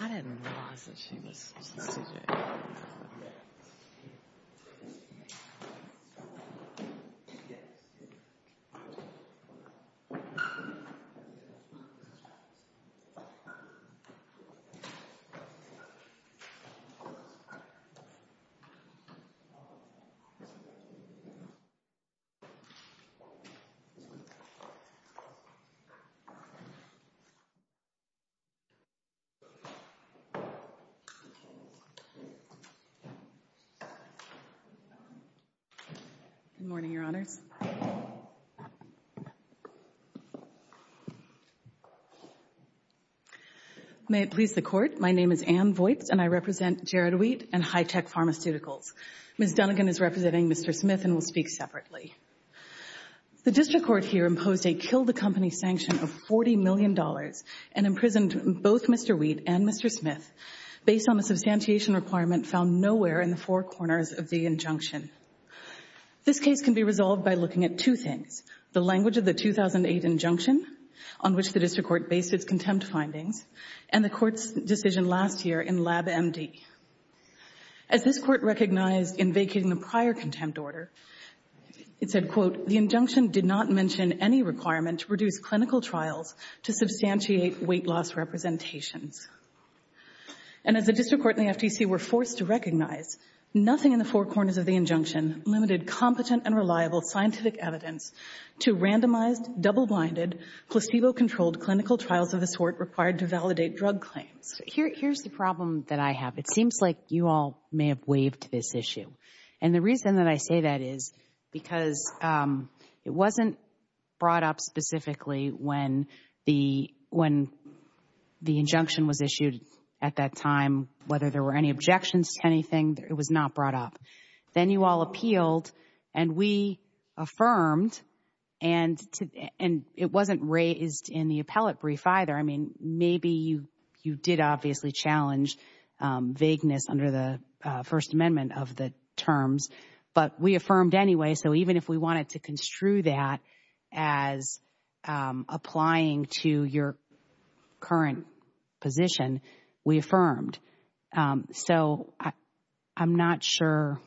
I didn't realize that she was a CJ. Good morning, Your Honors. May it please the Court. My name is Anne Voigt, and I represent Jared Wheat and Hi-Tech Pharmaceuticals. Ms. Dunnegan is representing Mr. Smith and will speak separately. The district court here imposed a kill-the-company sanction of $40 million and imprisoned both Mr. Wheat and Mr. Smith based on a substantiation requirement found nowhere in the four corners of the injunction. This case can be resolved by looking at two things, the language of the 2008 injunction on which the district court based its contempt findings, and the court's decision last year in LabMD. As this court recognized in vacating the prior contempt order, it said, quote, the injunction did not mention any requirement to produce clinical trials to substantiate weight-loss representations. And as the district court and the FTC were forced to recognize, nothing in the four corners of the injunction limited competent and reliable scientific evidence to randomized, double-blinded, placebo-controlled clinical trials of the sort required to validate drug claims. Here's the problem that I have. It seems like you all may have waived this issue. And the reason that I say that is because it wasn't brought up specifically when the injunction was issued at that time, whether there were any objections to anything, it was not brought up. Then you all appealed, and we affirmed, and it wasn't raised in the appellate brief either. I mean, maybe you did obviously challenge vagueness under the First Amendment of the terms, but we affirmed anyway. So even if we wanted to construe that as applying to your current position, we affirmed. So I'm not sure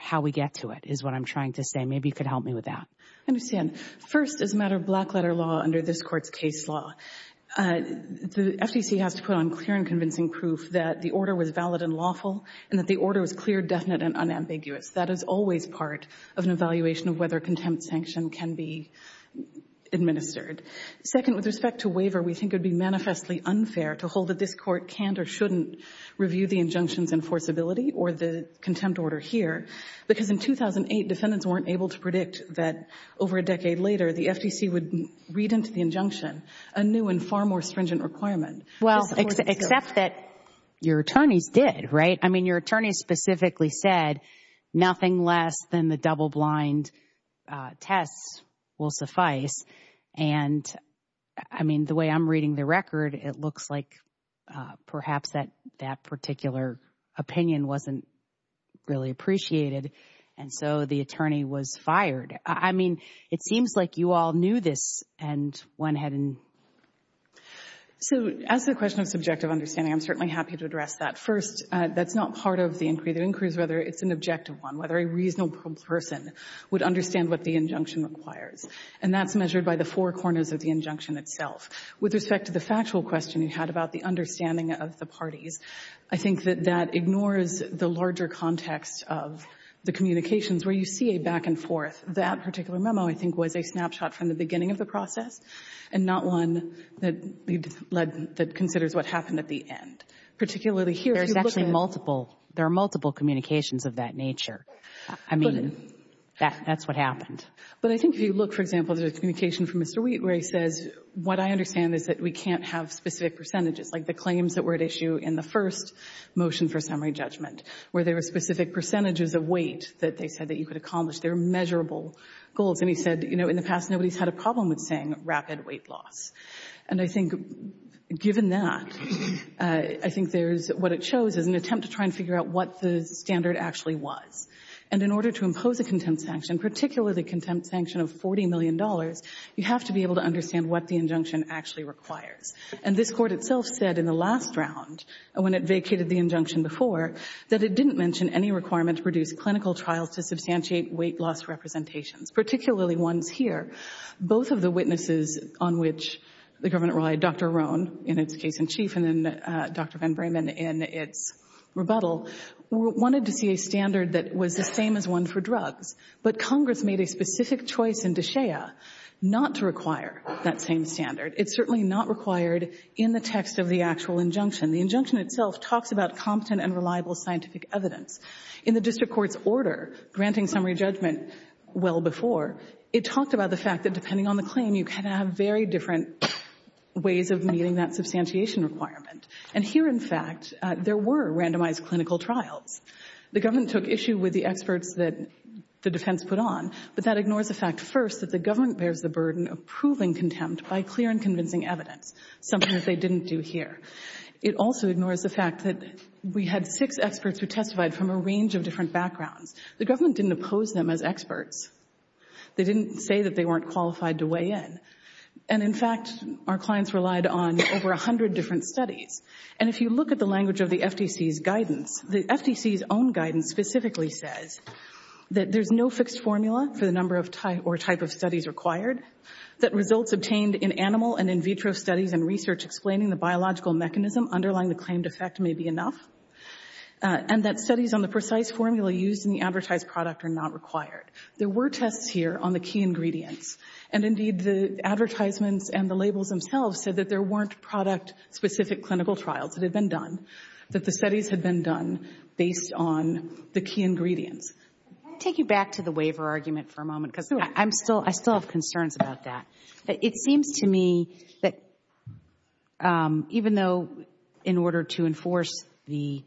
how we get to it is what I'm trying to say. Maybe you could help me with that. I understand. First, as a matter of black-letter law under this Court's case law, the FTC has to put on clear and convincing proof that the order was valid and lawful, and that the order was clear, definite, and unambiguous. That is always part of an evaluation of whether contempt sanction can be administered. Second, with respect to waiver, we think it would be manifestly unfair to hold that this Court shouldn't review the injunctions in forcibility or the contempt order here, because in 2008, defendants weren't able to predict that over a decade later, the FTC would read into the injunction a new and far more stringent requirement. Well, except that your attorneys did, right? I mean, your attorneys specifically said nothing less than the double-blind tests will suffice. And, I mean, the way I'm reading the record, it looks like perhaps that particular opinion wasn't really appreciated, and so the attorney was fired. I mean, it seems like you all knew this and went ahead and... So, as to the question of subjective understanding, I'm certainly happy to address that. First, that's not part of the inquiry. The inquiry is whether it's an objective one, whether a reasonable person would understand what the injunction requires. And that's measured by the four corners of the injunction itself. With respect to the factual question you had about the understanding of the parties, I think that that ignores the larger context of the communications where you see a back and forth. That particular memo, I think, was a snapshot from the beginning of the process and not one that considers what happened at the end, particularly here. There's actually multiple. There are multiple communications of that nature. I mean, that's what happened. But I think if you look, for example, there's a communication from Mr. Wheat where he says, what I understand is that we can't have specific percentages, like the claims that were at issue in the first motion for summary judgment, where there were specific percentages of weight that they said that you could accomplish. They're measurable goals. And he said, you know, in the past, nobody's had a problem with saying rapid weight loss. And I think, given that, I think there's what it shows is an attempt to try and figure out what the standard actually was. And in order to impose a contempt sanction, particularly the contempt sanction of $40 million, you have to be able to understand what the injunction actually requires. And this Court itself said in the last round, when it vacated the injunction before, that it didn't mention any requirement to produce clinical trials to substantiate weight loss representations, particularly ones here. Both of the witnesses on which the government relied, Dr. Rohn, in its case in chief, and Dr. Van Bremen in its rebuttal, wanted to see a standard that was the same as one for drugs. But Congress made a specific choice in D'Shea not to require that same standard. It's certainly not required in the text of the actual injunction. The injunction itself talks about competent and reliable scientific evidence. In the district court's order granting summary judgment well before, it talked about the fact that, depending on the claim, you can have very different ways of meeting that substantiation requirement. And here, in fact, there were randomized clinical trials. The government took issue with the experts that the defense put on, but that ignores the fact first that the government bears the burden of proving contempt by clear and convincing evidence, something that they didn't do here. It also ignores the fact that we had six experts who testified from a range of different backgrounds. The government didn't oppose them as experts. They didn't say that they weren't qualified to weigh in. And, in fact, our clients relied on over 100 different studies. And if you look at the language of the FTC's guidance, the FTC's own guidance specifically says that there's no fixed formula for the number or type of studies required, that results obtained in animal and in vitro studies and research explaining the biological mechanism underlying the claimed effect may be enough, and that studies on the precise formula used in the advertised product are not required. There were tests here on the key ingredients. And, indeed, the advertisements and the labels themselves said that there weren't product specific clinical trials that had been done, that the studies had been done based on the key ingredients. Can I take you back to the waiver argument for a moment? Because I'm still, I still have concerns about that. It seems to me that even though in order to enforce the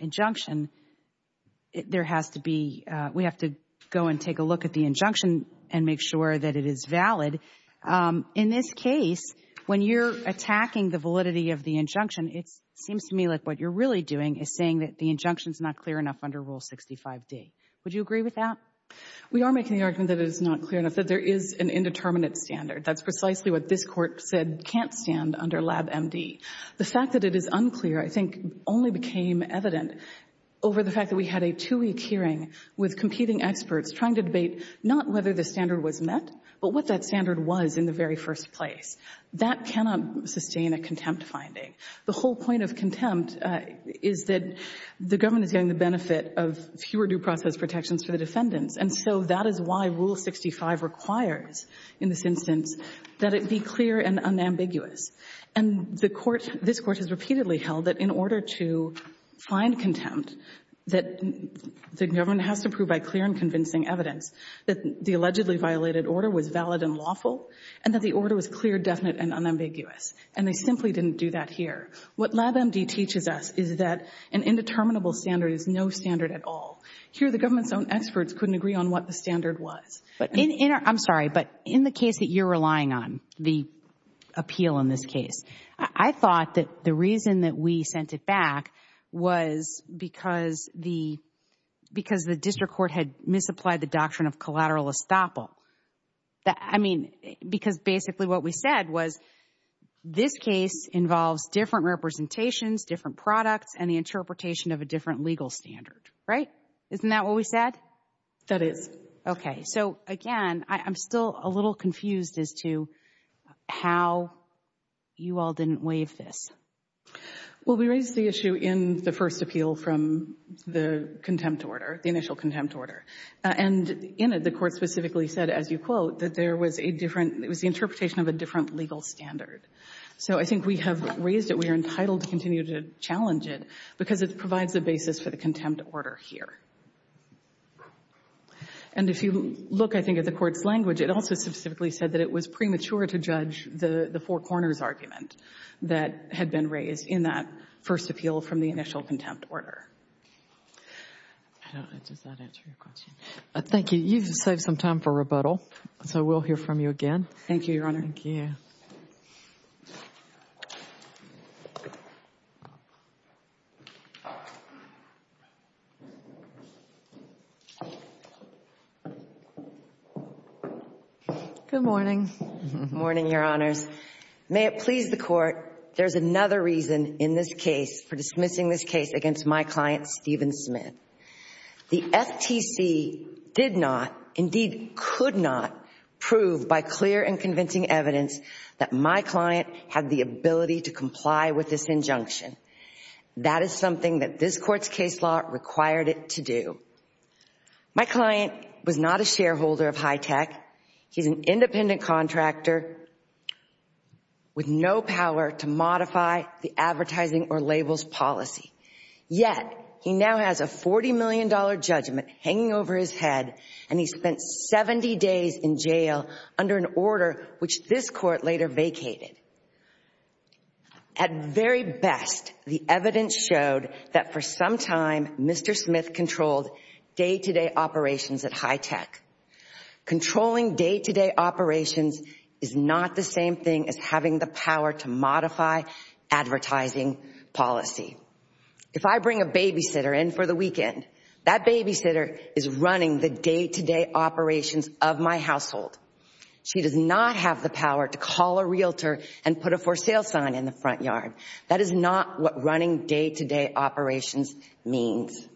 injunction, there has to be, we have to go and take a look at the injunction and make sure that it is valid. In this case, when you're attacking the validity of the injunction, it seems to me like what you're really doing is saying that the injunction's not clear enough under Rule 65D. Would you agree with that? We are making the argument that it is not clear enough, that there is an indeterminate standard. That's precisely what this Court said can't stand under Lab MD. The fact that it is unclear, I think, only became evident over the fact that we had a experts trying to debate not whether the standard was met, but what that standard was in the very first place. That cannot sustain a contempt finding. The whole point of contempt is that the government is getting the benefit of fewer due process protections for the defendants. And so that is why Rule 65 requires in this instance that it be clear and unambiguous. And the Court, this Court has repeatedly held that in order to find contempt, that the government has to prove by clear and convincing evidence that the allegedly violated order was valid and lawful, and that the order was clear, definite, and unambiguous. And they simply didn't do that here. What Lab MD teaches us is that an indeterminable standard is no standard at all. Here, the government's own experts couldn't agree on what the standard was. But in our, I'm sorry, but in the case that you're relying on, the appeal in this case, I thought that the reason that we sent it back was because the district court had misapplied the doctrine of collateral estoppel. I mean, because basically what we said was this case involves different representations, different products, and the interpretation of a different legal standard, right? Isn't that what we said? That is. Okay. So again, I'm still a little confused as to how you all didn't waive this. Well, we raised the issue in the first appeal from the contempt order, the initial contempt order. And in it, the Court specifically said, as you quote, that there was a different, it was the interpretation of a different legal standard. So I think we have raised it. We are entitled to continue to challenge it because it provides the basis for the contempt order here. And if you look, I think, at the Court's language, it also specifically said that it was premature to judge the four corners argument that had been raised in that first appeal from the initial contempt order. I don't know. Does that answer your question? Thank you. You've saved some time for rebuttal. So we'll hear from you again. Thank you, Your Honor. Thank you. Good morning. Good morning, Your Honors. May it please the Court, there's another reason in this case for dismissing this case against my client, Stephen Smith. The FTC did not, indeed could not, prove by clear and convincing evidence that my client had the ability to comply with this injunction. That is something that this Court's case law required it to do. My client was not a shareholder of Hitech. He's an independent contractor with no power to modify the advertising or labels policy. Yet, he now has a $40 million judgment hanging over his head, and he spent 70 days in jail under an order which this Court later vacated. At very best, the evidence showed that for some time, Mr. Smith controlled day-to-day operations at Hitech. Controlling day-to-day operations is not the same thing as having the power to modify advertising policy. If I bring a babysitter in for the weekend, that babysitter is running the day-to-day operations of my household. She does not have the power to call a realtor and put a for sale sign in the front yard. That is not what running day-to-day operations means.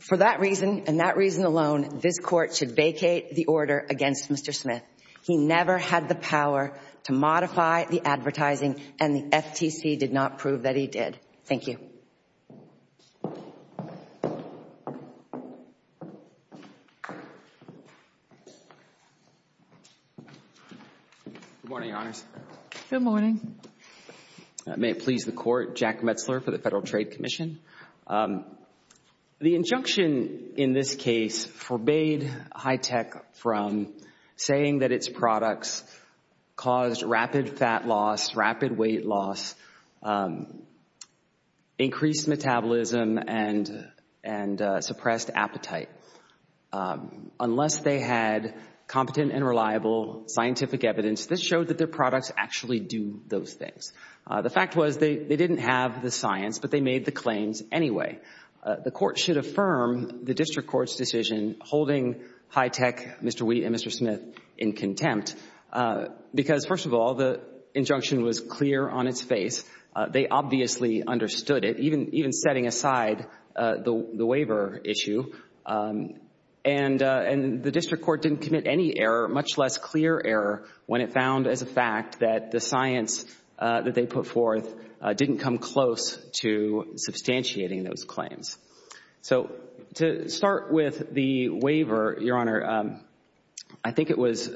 For that reason, and that reason alone, this Court should vacate the order against Mr. Smith. He never had the power to modify the advertising, and the FTC did not prove that he did. Thank you. Good morning, Your Honors. Good morning. May it please the Court, Jack Metzler for the Federal Trade Commission. The injunction in this case forbade Hitech from saying that its products caused rapid fat loss, rapid weight loss, increased metabolism, and suppressed appetite. Unless they had competent and reliable scientific evidence, this showed that their products actually do those things. The fact was they didn't have the science, but they made the claims anyway. The Court should affirm the District Court's decision holding Hitech, Mr. Wheat, and Mr. Smith in contempt because, first of all, the injunction was clear on its face. They obviously understood it, even setting aside the waiver issue. And the District Court didn't commit any error, much less clear error, when it found as a fact that the science that they put forth didn't come close to substantiating those claims. So to start with the waiver, Your Honor, I think it was,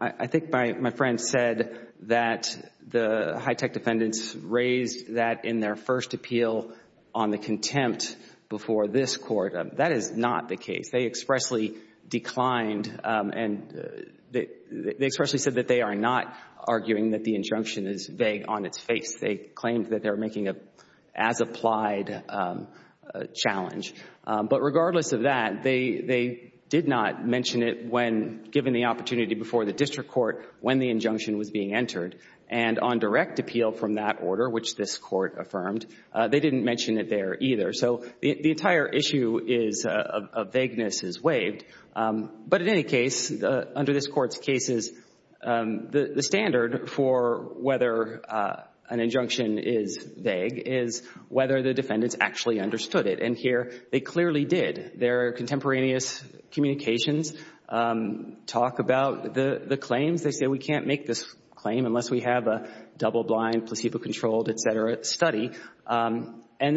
I think my friend said that the Hitech defendants raised that in their first appeal on the contempt before this Court. That is not the case. They expressly declined and they expressly said that they are not arguing that the injunction is vague on its face. They claimed that they were making an as-applied challenge. But regardless of that, they did not mention it when, given the opportunity before the District Court, when the injunction was being entered. And on direct appeal from that order, which this Court affirmed, they didn't mention it there either. So the entire issue of vagueness is waived. But in any case, under this Court's cases, the standard for whether an injunction is vague is whether the defendants actually understood it. And here they clearly did. Their contemporaneous communications talk about the claims. They say we can't make this claim unless we have a double-blind, placebo-controlled, et cetera, study. And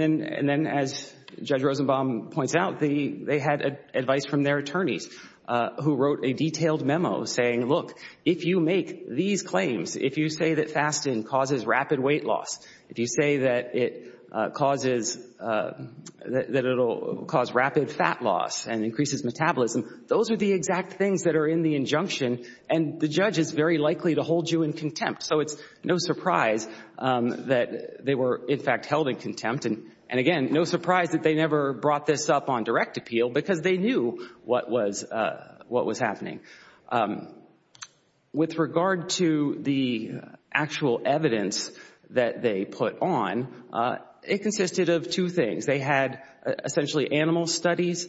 then, as Judge Rosenbaum points out, they had advice from their attorneys who wrote a detailed memo saying, look, if you make these claims, if you say that fasting causes rapid weight loss, if you say that it causes, that it will cause rapid fat loss and increases metabolism, those are the exact things that are in the injunction. And the judge is very likely to hold you in contempt. So it's no surprise that they were, in fact, held in contempt. And again, no surprise that they never brought this up on direct appeal because they knew what was happening. With regard to the actual evidence that they put on, it consisted of two things. They had essentially animal studies,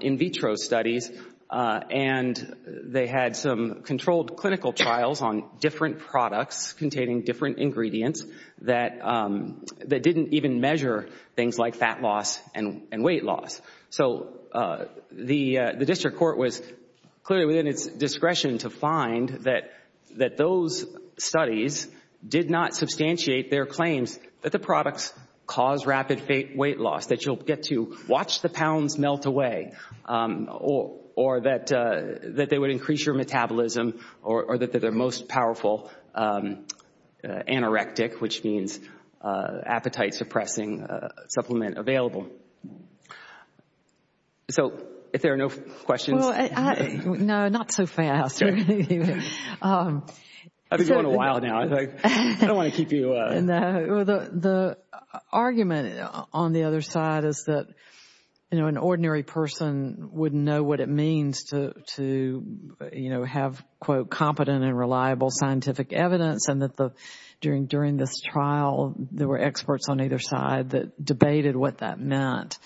in vitro studies, and they had some controlled clinical trials on different products containing different ingredients that didn't even measure things like fat loss and weight loss. So the district court was clearly within its discretion to find that those studies did not substantiate their claims that the products cause rapid weight loss, that you'll get to melt away, or that they would increase your metabolism, or that they're the most powerful anorectic, which means appetite-suppressing supplement available. So if there are no questions... Well, no, not so fast. I've been going a while now. I don't want to keep you... The argument on the other side is that, you know, an ordinary person wouldn't know what it means to, you know, have, quote, competent and reliable scientific evidence, and that during this trial, there were experts on either side that debated what that meant.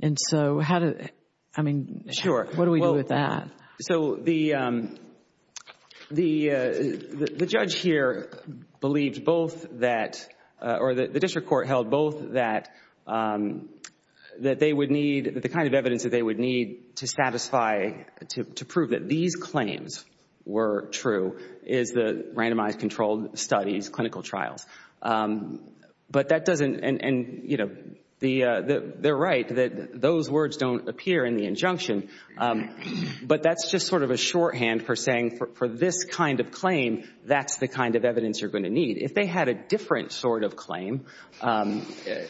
And so how did... I mean, what do we do with that? So the judge here believed both that, or the district court held both that they would need, the kind of evidence that they would need to satisfy, to prove that these claims were true is the randomized controlled studies, clinical trials. But that doesn't, and, you know, they're right that those words don't appear in the injunction, but that's just sort of a shorthand for saying, for this kind of claim, that's the kind of evidence you're going to need. If they had a different sort of claim,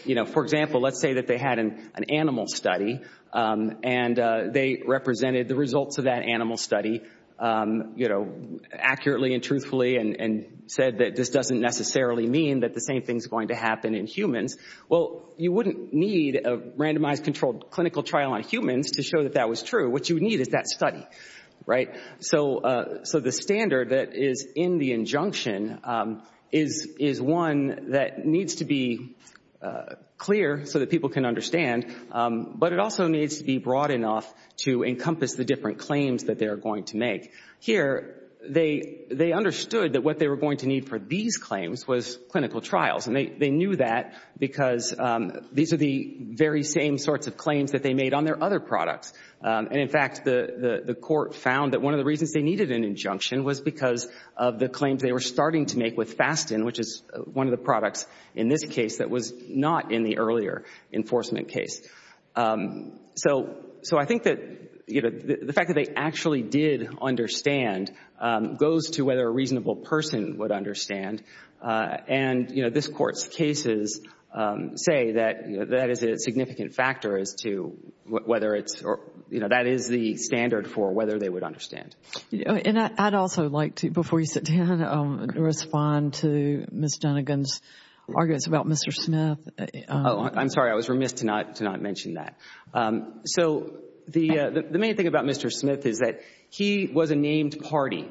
you know, for example, let's say that they had an animal study, and they represented the results of that animal study, you know, accurately and truthfully, and said that this doesn't necessarily mean that the same thing's going to happen in humans. Well, you wouldn't need a randomized controlled clinical trial on humans to show that that was true. What you would need is that study, right? So the standard that is in the injunction is one that needs to be clear so that people can understand, but it also needs to be broad enough to encompass the different claims that they're going to make. Here, they understood that what they were going to need for these claims was clinical trials, and they knew that because these are the very same sorts of claims that they made on their other products. And in fact, the court found that one of the reasons they needed an injunction was because of the claims they were starting to make with Fasten, which is one of the products in this case that was not in the earlier enforcement case. So I think that, you know, the fact that they actually did understand goes to whether a reasonable person would understand. And, you know, this Court's cases say that that is a significant factor as to whether it's, you know, that is the standard for whether they would understand. And I'd also like to, before you sit down, respond to Ms. Dunnegan's arguments about Mr. Smith. Oh, I'm sorry. I was remiss to not mention that. So the main thing about Mr. Smith is that he was a named party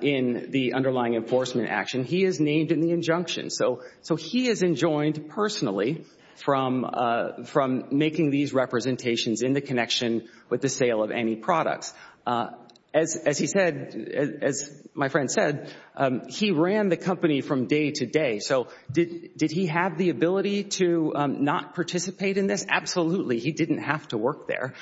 in the underlying enforcement action. He is named in the injunction. So he is enjoined personally from making these representations in the connection with the sale of any products. As he said, as my friend said, he ran the company from day to day. So did he have the ability to not participate in this? Absolutely. He didn't have to work there.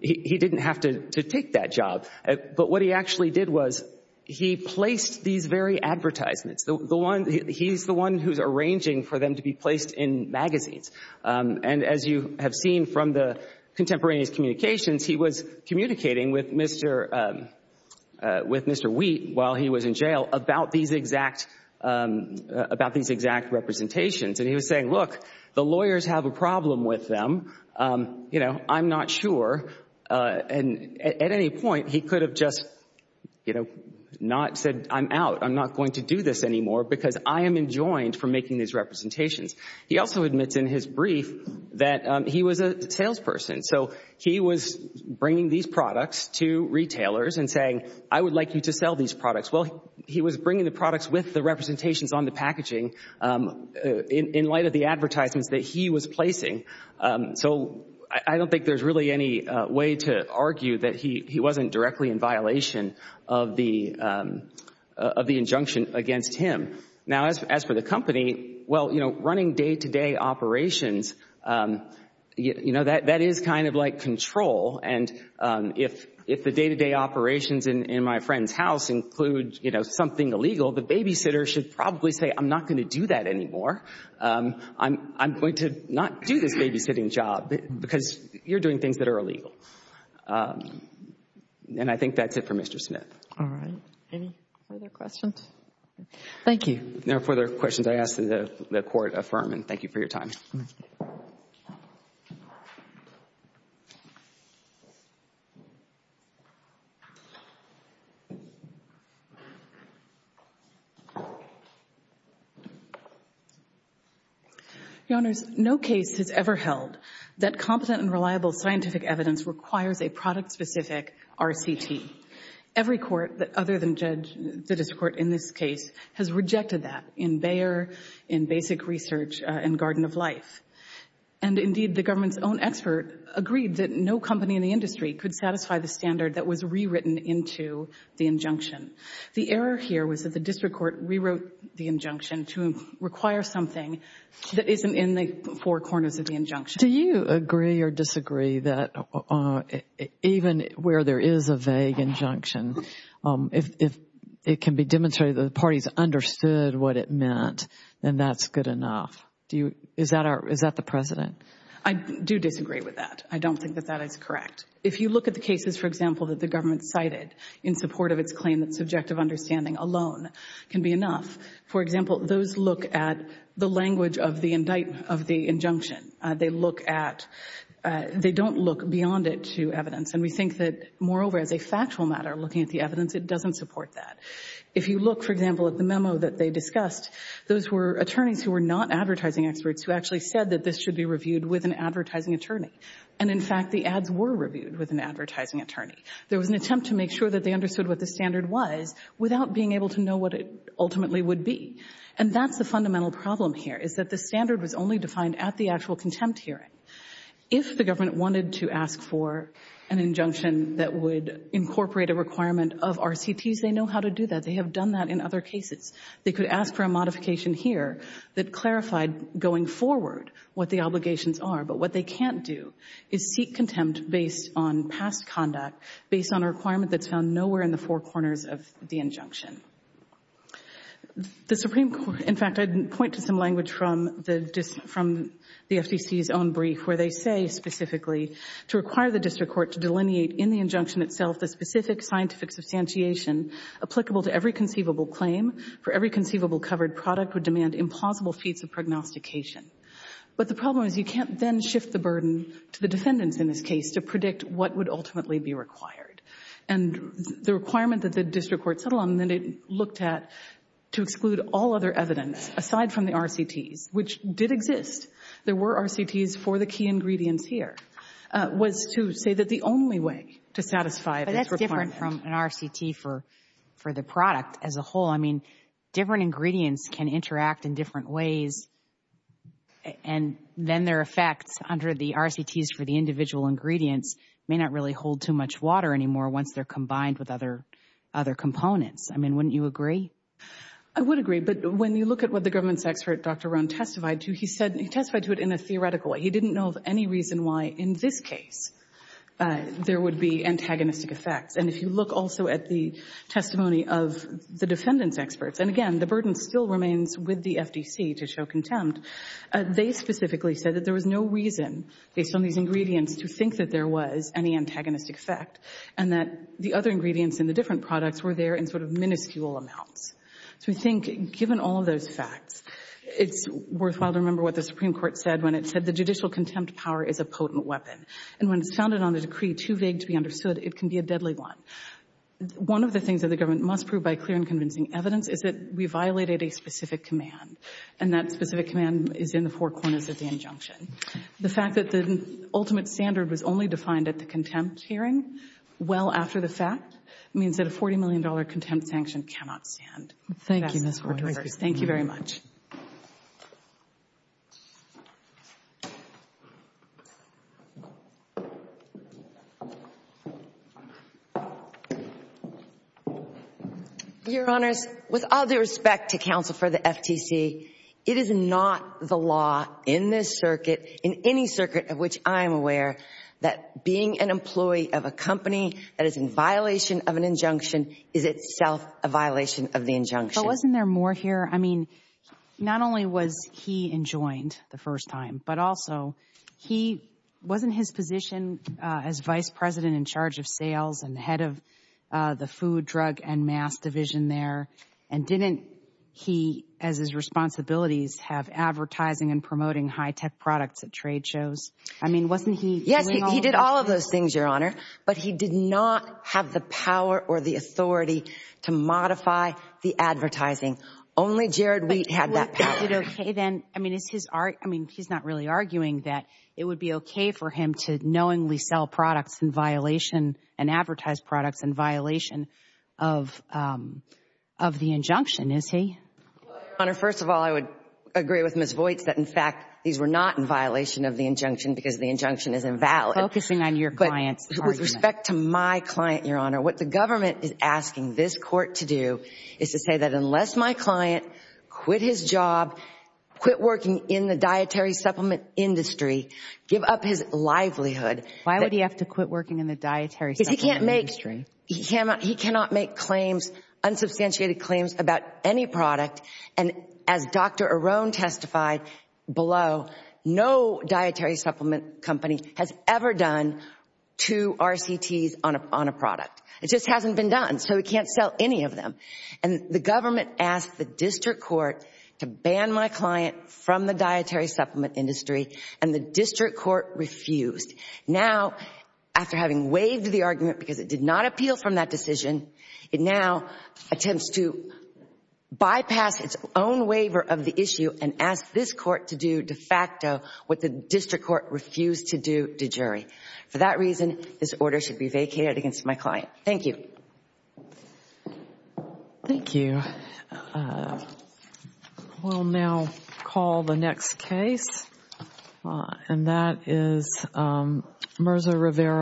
He didn't have to take that job. But what he actually did was he placed these very advertisements, the one he's the one who's arranging for them to be placed in magazines. And as you have seen from the contemporaneous communications, he was communicating with Mr. Wheat while he was in jail about these exact representations. And he was saying, look, the lawyers have a problem with them. You know, I'm not sure. And at any point, he could have just, you know, not said, I'm out. I'm not going to do this anymore because I am enjoined from making these representations. He also admits in his brief that he was a salesperson. So he was bringing these products to retailers and saying, I would like you to sell these products. Well, he was bringing the products with the representations on the packaging in light of the advertisements that he was placing. So I don't think there's really any way to argue that he wasn't directly in violation of the injunction against him. Now, as for the company, well, you know, running day-to-day operations, you know, that is kind of like control. And if the day-to-day operations in my friend's house include, you know, something illegal, the babysitter should probably say, I'm not going to do that anymore. I'm going to not do this babysitting job because you're doing things that are illegal. And I think that's it for Mr. Smith. All right. Any further questions? Thank you. No further questions. I ask that the Court affirm. And thank you for your time. Your Honors, no case has ever held that competent and reliable scientific evidence requires a product-specific RCT. Every court other than the district court in this case has rejected that in Bayer, in Basic Research, in Garden of Life. And indeed, the government's own expert agreed that no company in the industry error here was that the district court rewrote the injunction to require something that isn't in the four corners of the injunction. Do you agree or disagree that even where there is a vague injunction, if it can be demonstrated that the parties understood what it meant, then that's good enough? Do you, is that our, is that the precedent? I do disagree with that. I don't think that that is correct. If you look at the cases, for example, that the government cited in support of its claim that subjective understanding alone can be enough, for example, those look at the language of the indictment, of the injunction. They look at, they don't look beyond it to evidence. And we think that, moreover, as a factual matter, looking at the evidence, it doesn't support that. If you look, for example, at the memo that they discussed, those were attorneys who were not advertising experts who actually said that this should be reviewed with an advertising attorney. And in fact, the ads were reviewed with an advertising attorney. There was an attempt to make sure that they understood what the standard was without being able to know what it ultimately would be. And that's the fundamental problem here, is that the standard was only defined at the actual contempt hearing. If the government wanted to ask for an injunction that would incorporate a requirement of RCTs, they know how to do that. They have done that in other cases. They could ask for a modification here that clarified going forward what the obligations are. But what they can't do is seek contempt based on past conduct, based on a requirement that's found nowhere in the four corners of the injunction. The Supreme Court, in fact, I'd point to some language from the FTC's own brief, where they say specifically, to require the district court to delineate in the injunction itself the specific scientific substantiation applicable to every conceivable claim, for every conceivable covered product would demand impossible feats of prognostication. But the problem is you can't then shift the burden to the defendants in this case to predict what would ultimately be required. And the requirement that the district court settled on, then it looked at to exclude all other evidence aside from the RCTs, which did exist. There were RCTs for the key ingredients here, was to say that the only way to satisfy this requirement. But that's different from an RCT for the product as a whole. Different ingredients can interact in different ways. And then their effects under the RCTs for the individual ingredients may not really hold too much water anymore once they're combined with other components. I mean, wouldn't you agree? I would agree. But when you look at what the government's expert, Dr. Rohn, testified to, he testified to it in a theoretical way. He didn't know of any reason why in this case there would be antagonistic effects. And if you look also at the testimony of the defendant's experts, and, again, the burden still remains with the FDC to show contempt, they specifically said that there was no reason, based on these ingredients, to think that there was any antagonistic effect and that the other ingredients in the different products were there in sort of minuscule amounts. So we think, given all of those facts, it's worthwhile to remember what the Supreme Court said when it said the judicial contempt power is a potent weapon. And when it's founded on a decree too vague to be understood, it can be a deadly one. One of the things that the government must prove by clear and convincing evidence is that we violated a specific command. And that specific command is in the four corners of the injunction. The fact that the ultimate standard was only defined at the contempt hearing well after the fact means that a $40 million contempt sanction cannot stand. Thank you, Ms. Ward. Thank you very much. Your Honors, with all due respect to counsel for the FTC, it is not the law in this circuit, in any circuit of which I'm aware, that being an employee of a company that is in violation of an injunction is itself a violation of the injunction. But wasn't there more here? I mean, not only was he enjoined the first time, but also he wasn't his position as vice president in charge of sales and the head of the food, drug, and mass division there. And didn't he, as his responsibilities, have advertising and promoting high-tech products at trade shows? I mean, wasn't he? Yes, he did all of those things, Your Honor. But he did not have the power or the authority to modify the advertising. Only Jared Wheat had that power. But was it okay, then? I mean, he's not really arguing that it would be okay for him to knowingly sell products in violation and advertise products in violation of the injunction, is he? Well, Your Honor, first of all, I would agree with Ms. Voights that, in fact, these were not in violation of the injunction because the injunction is invalid. Focusing on your client's argument. But with respect to my client, Your Honor, what the government is asking this court to is to say that unless my client quit his job, quit working in the dietary supplement industry, give up his livelihood— Why would he have to quit working in the dietary supplement industry? He cannot make claims, unsubstantiated claims, about any product. And as Dr. Arone testified below, no dietary supplement company has ever done two RCTs on a product. It just hasn't been done. So we can't sell any of them. And the government asked the district court to ban my client from the dietary supplement industry, and the district court refused. Now, after having waived the argument because it did not appeal from that decision, it now attempts to bypass its own waiver of the issue and ask this court to do de facto what the district court refused to do to jury. For that reason, this order should be vacated against my client. Thank you. Thank you. We'll now call the next case, and that is Merza Rivera.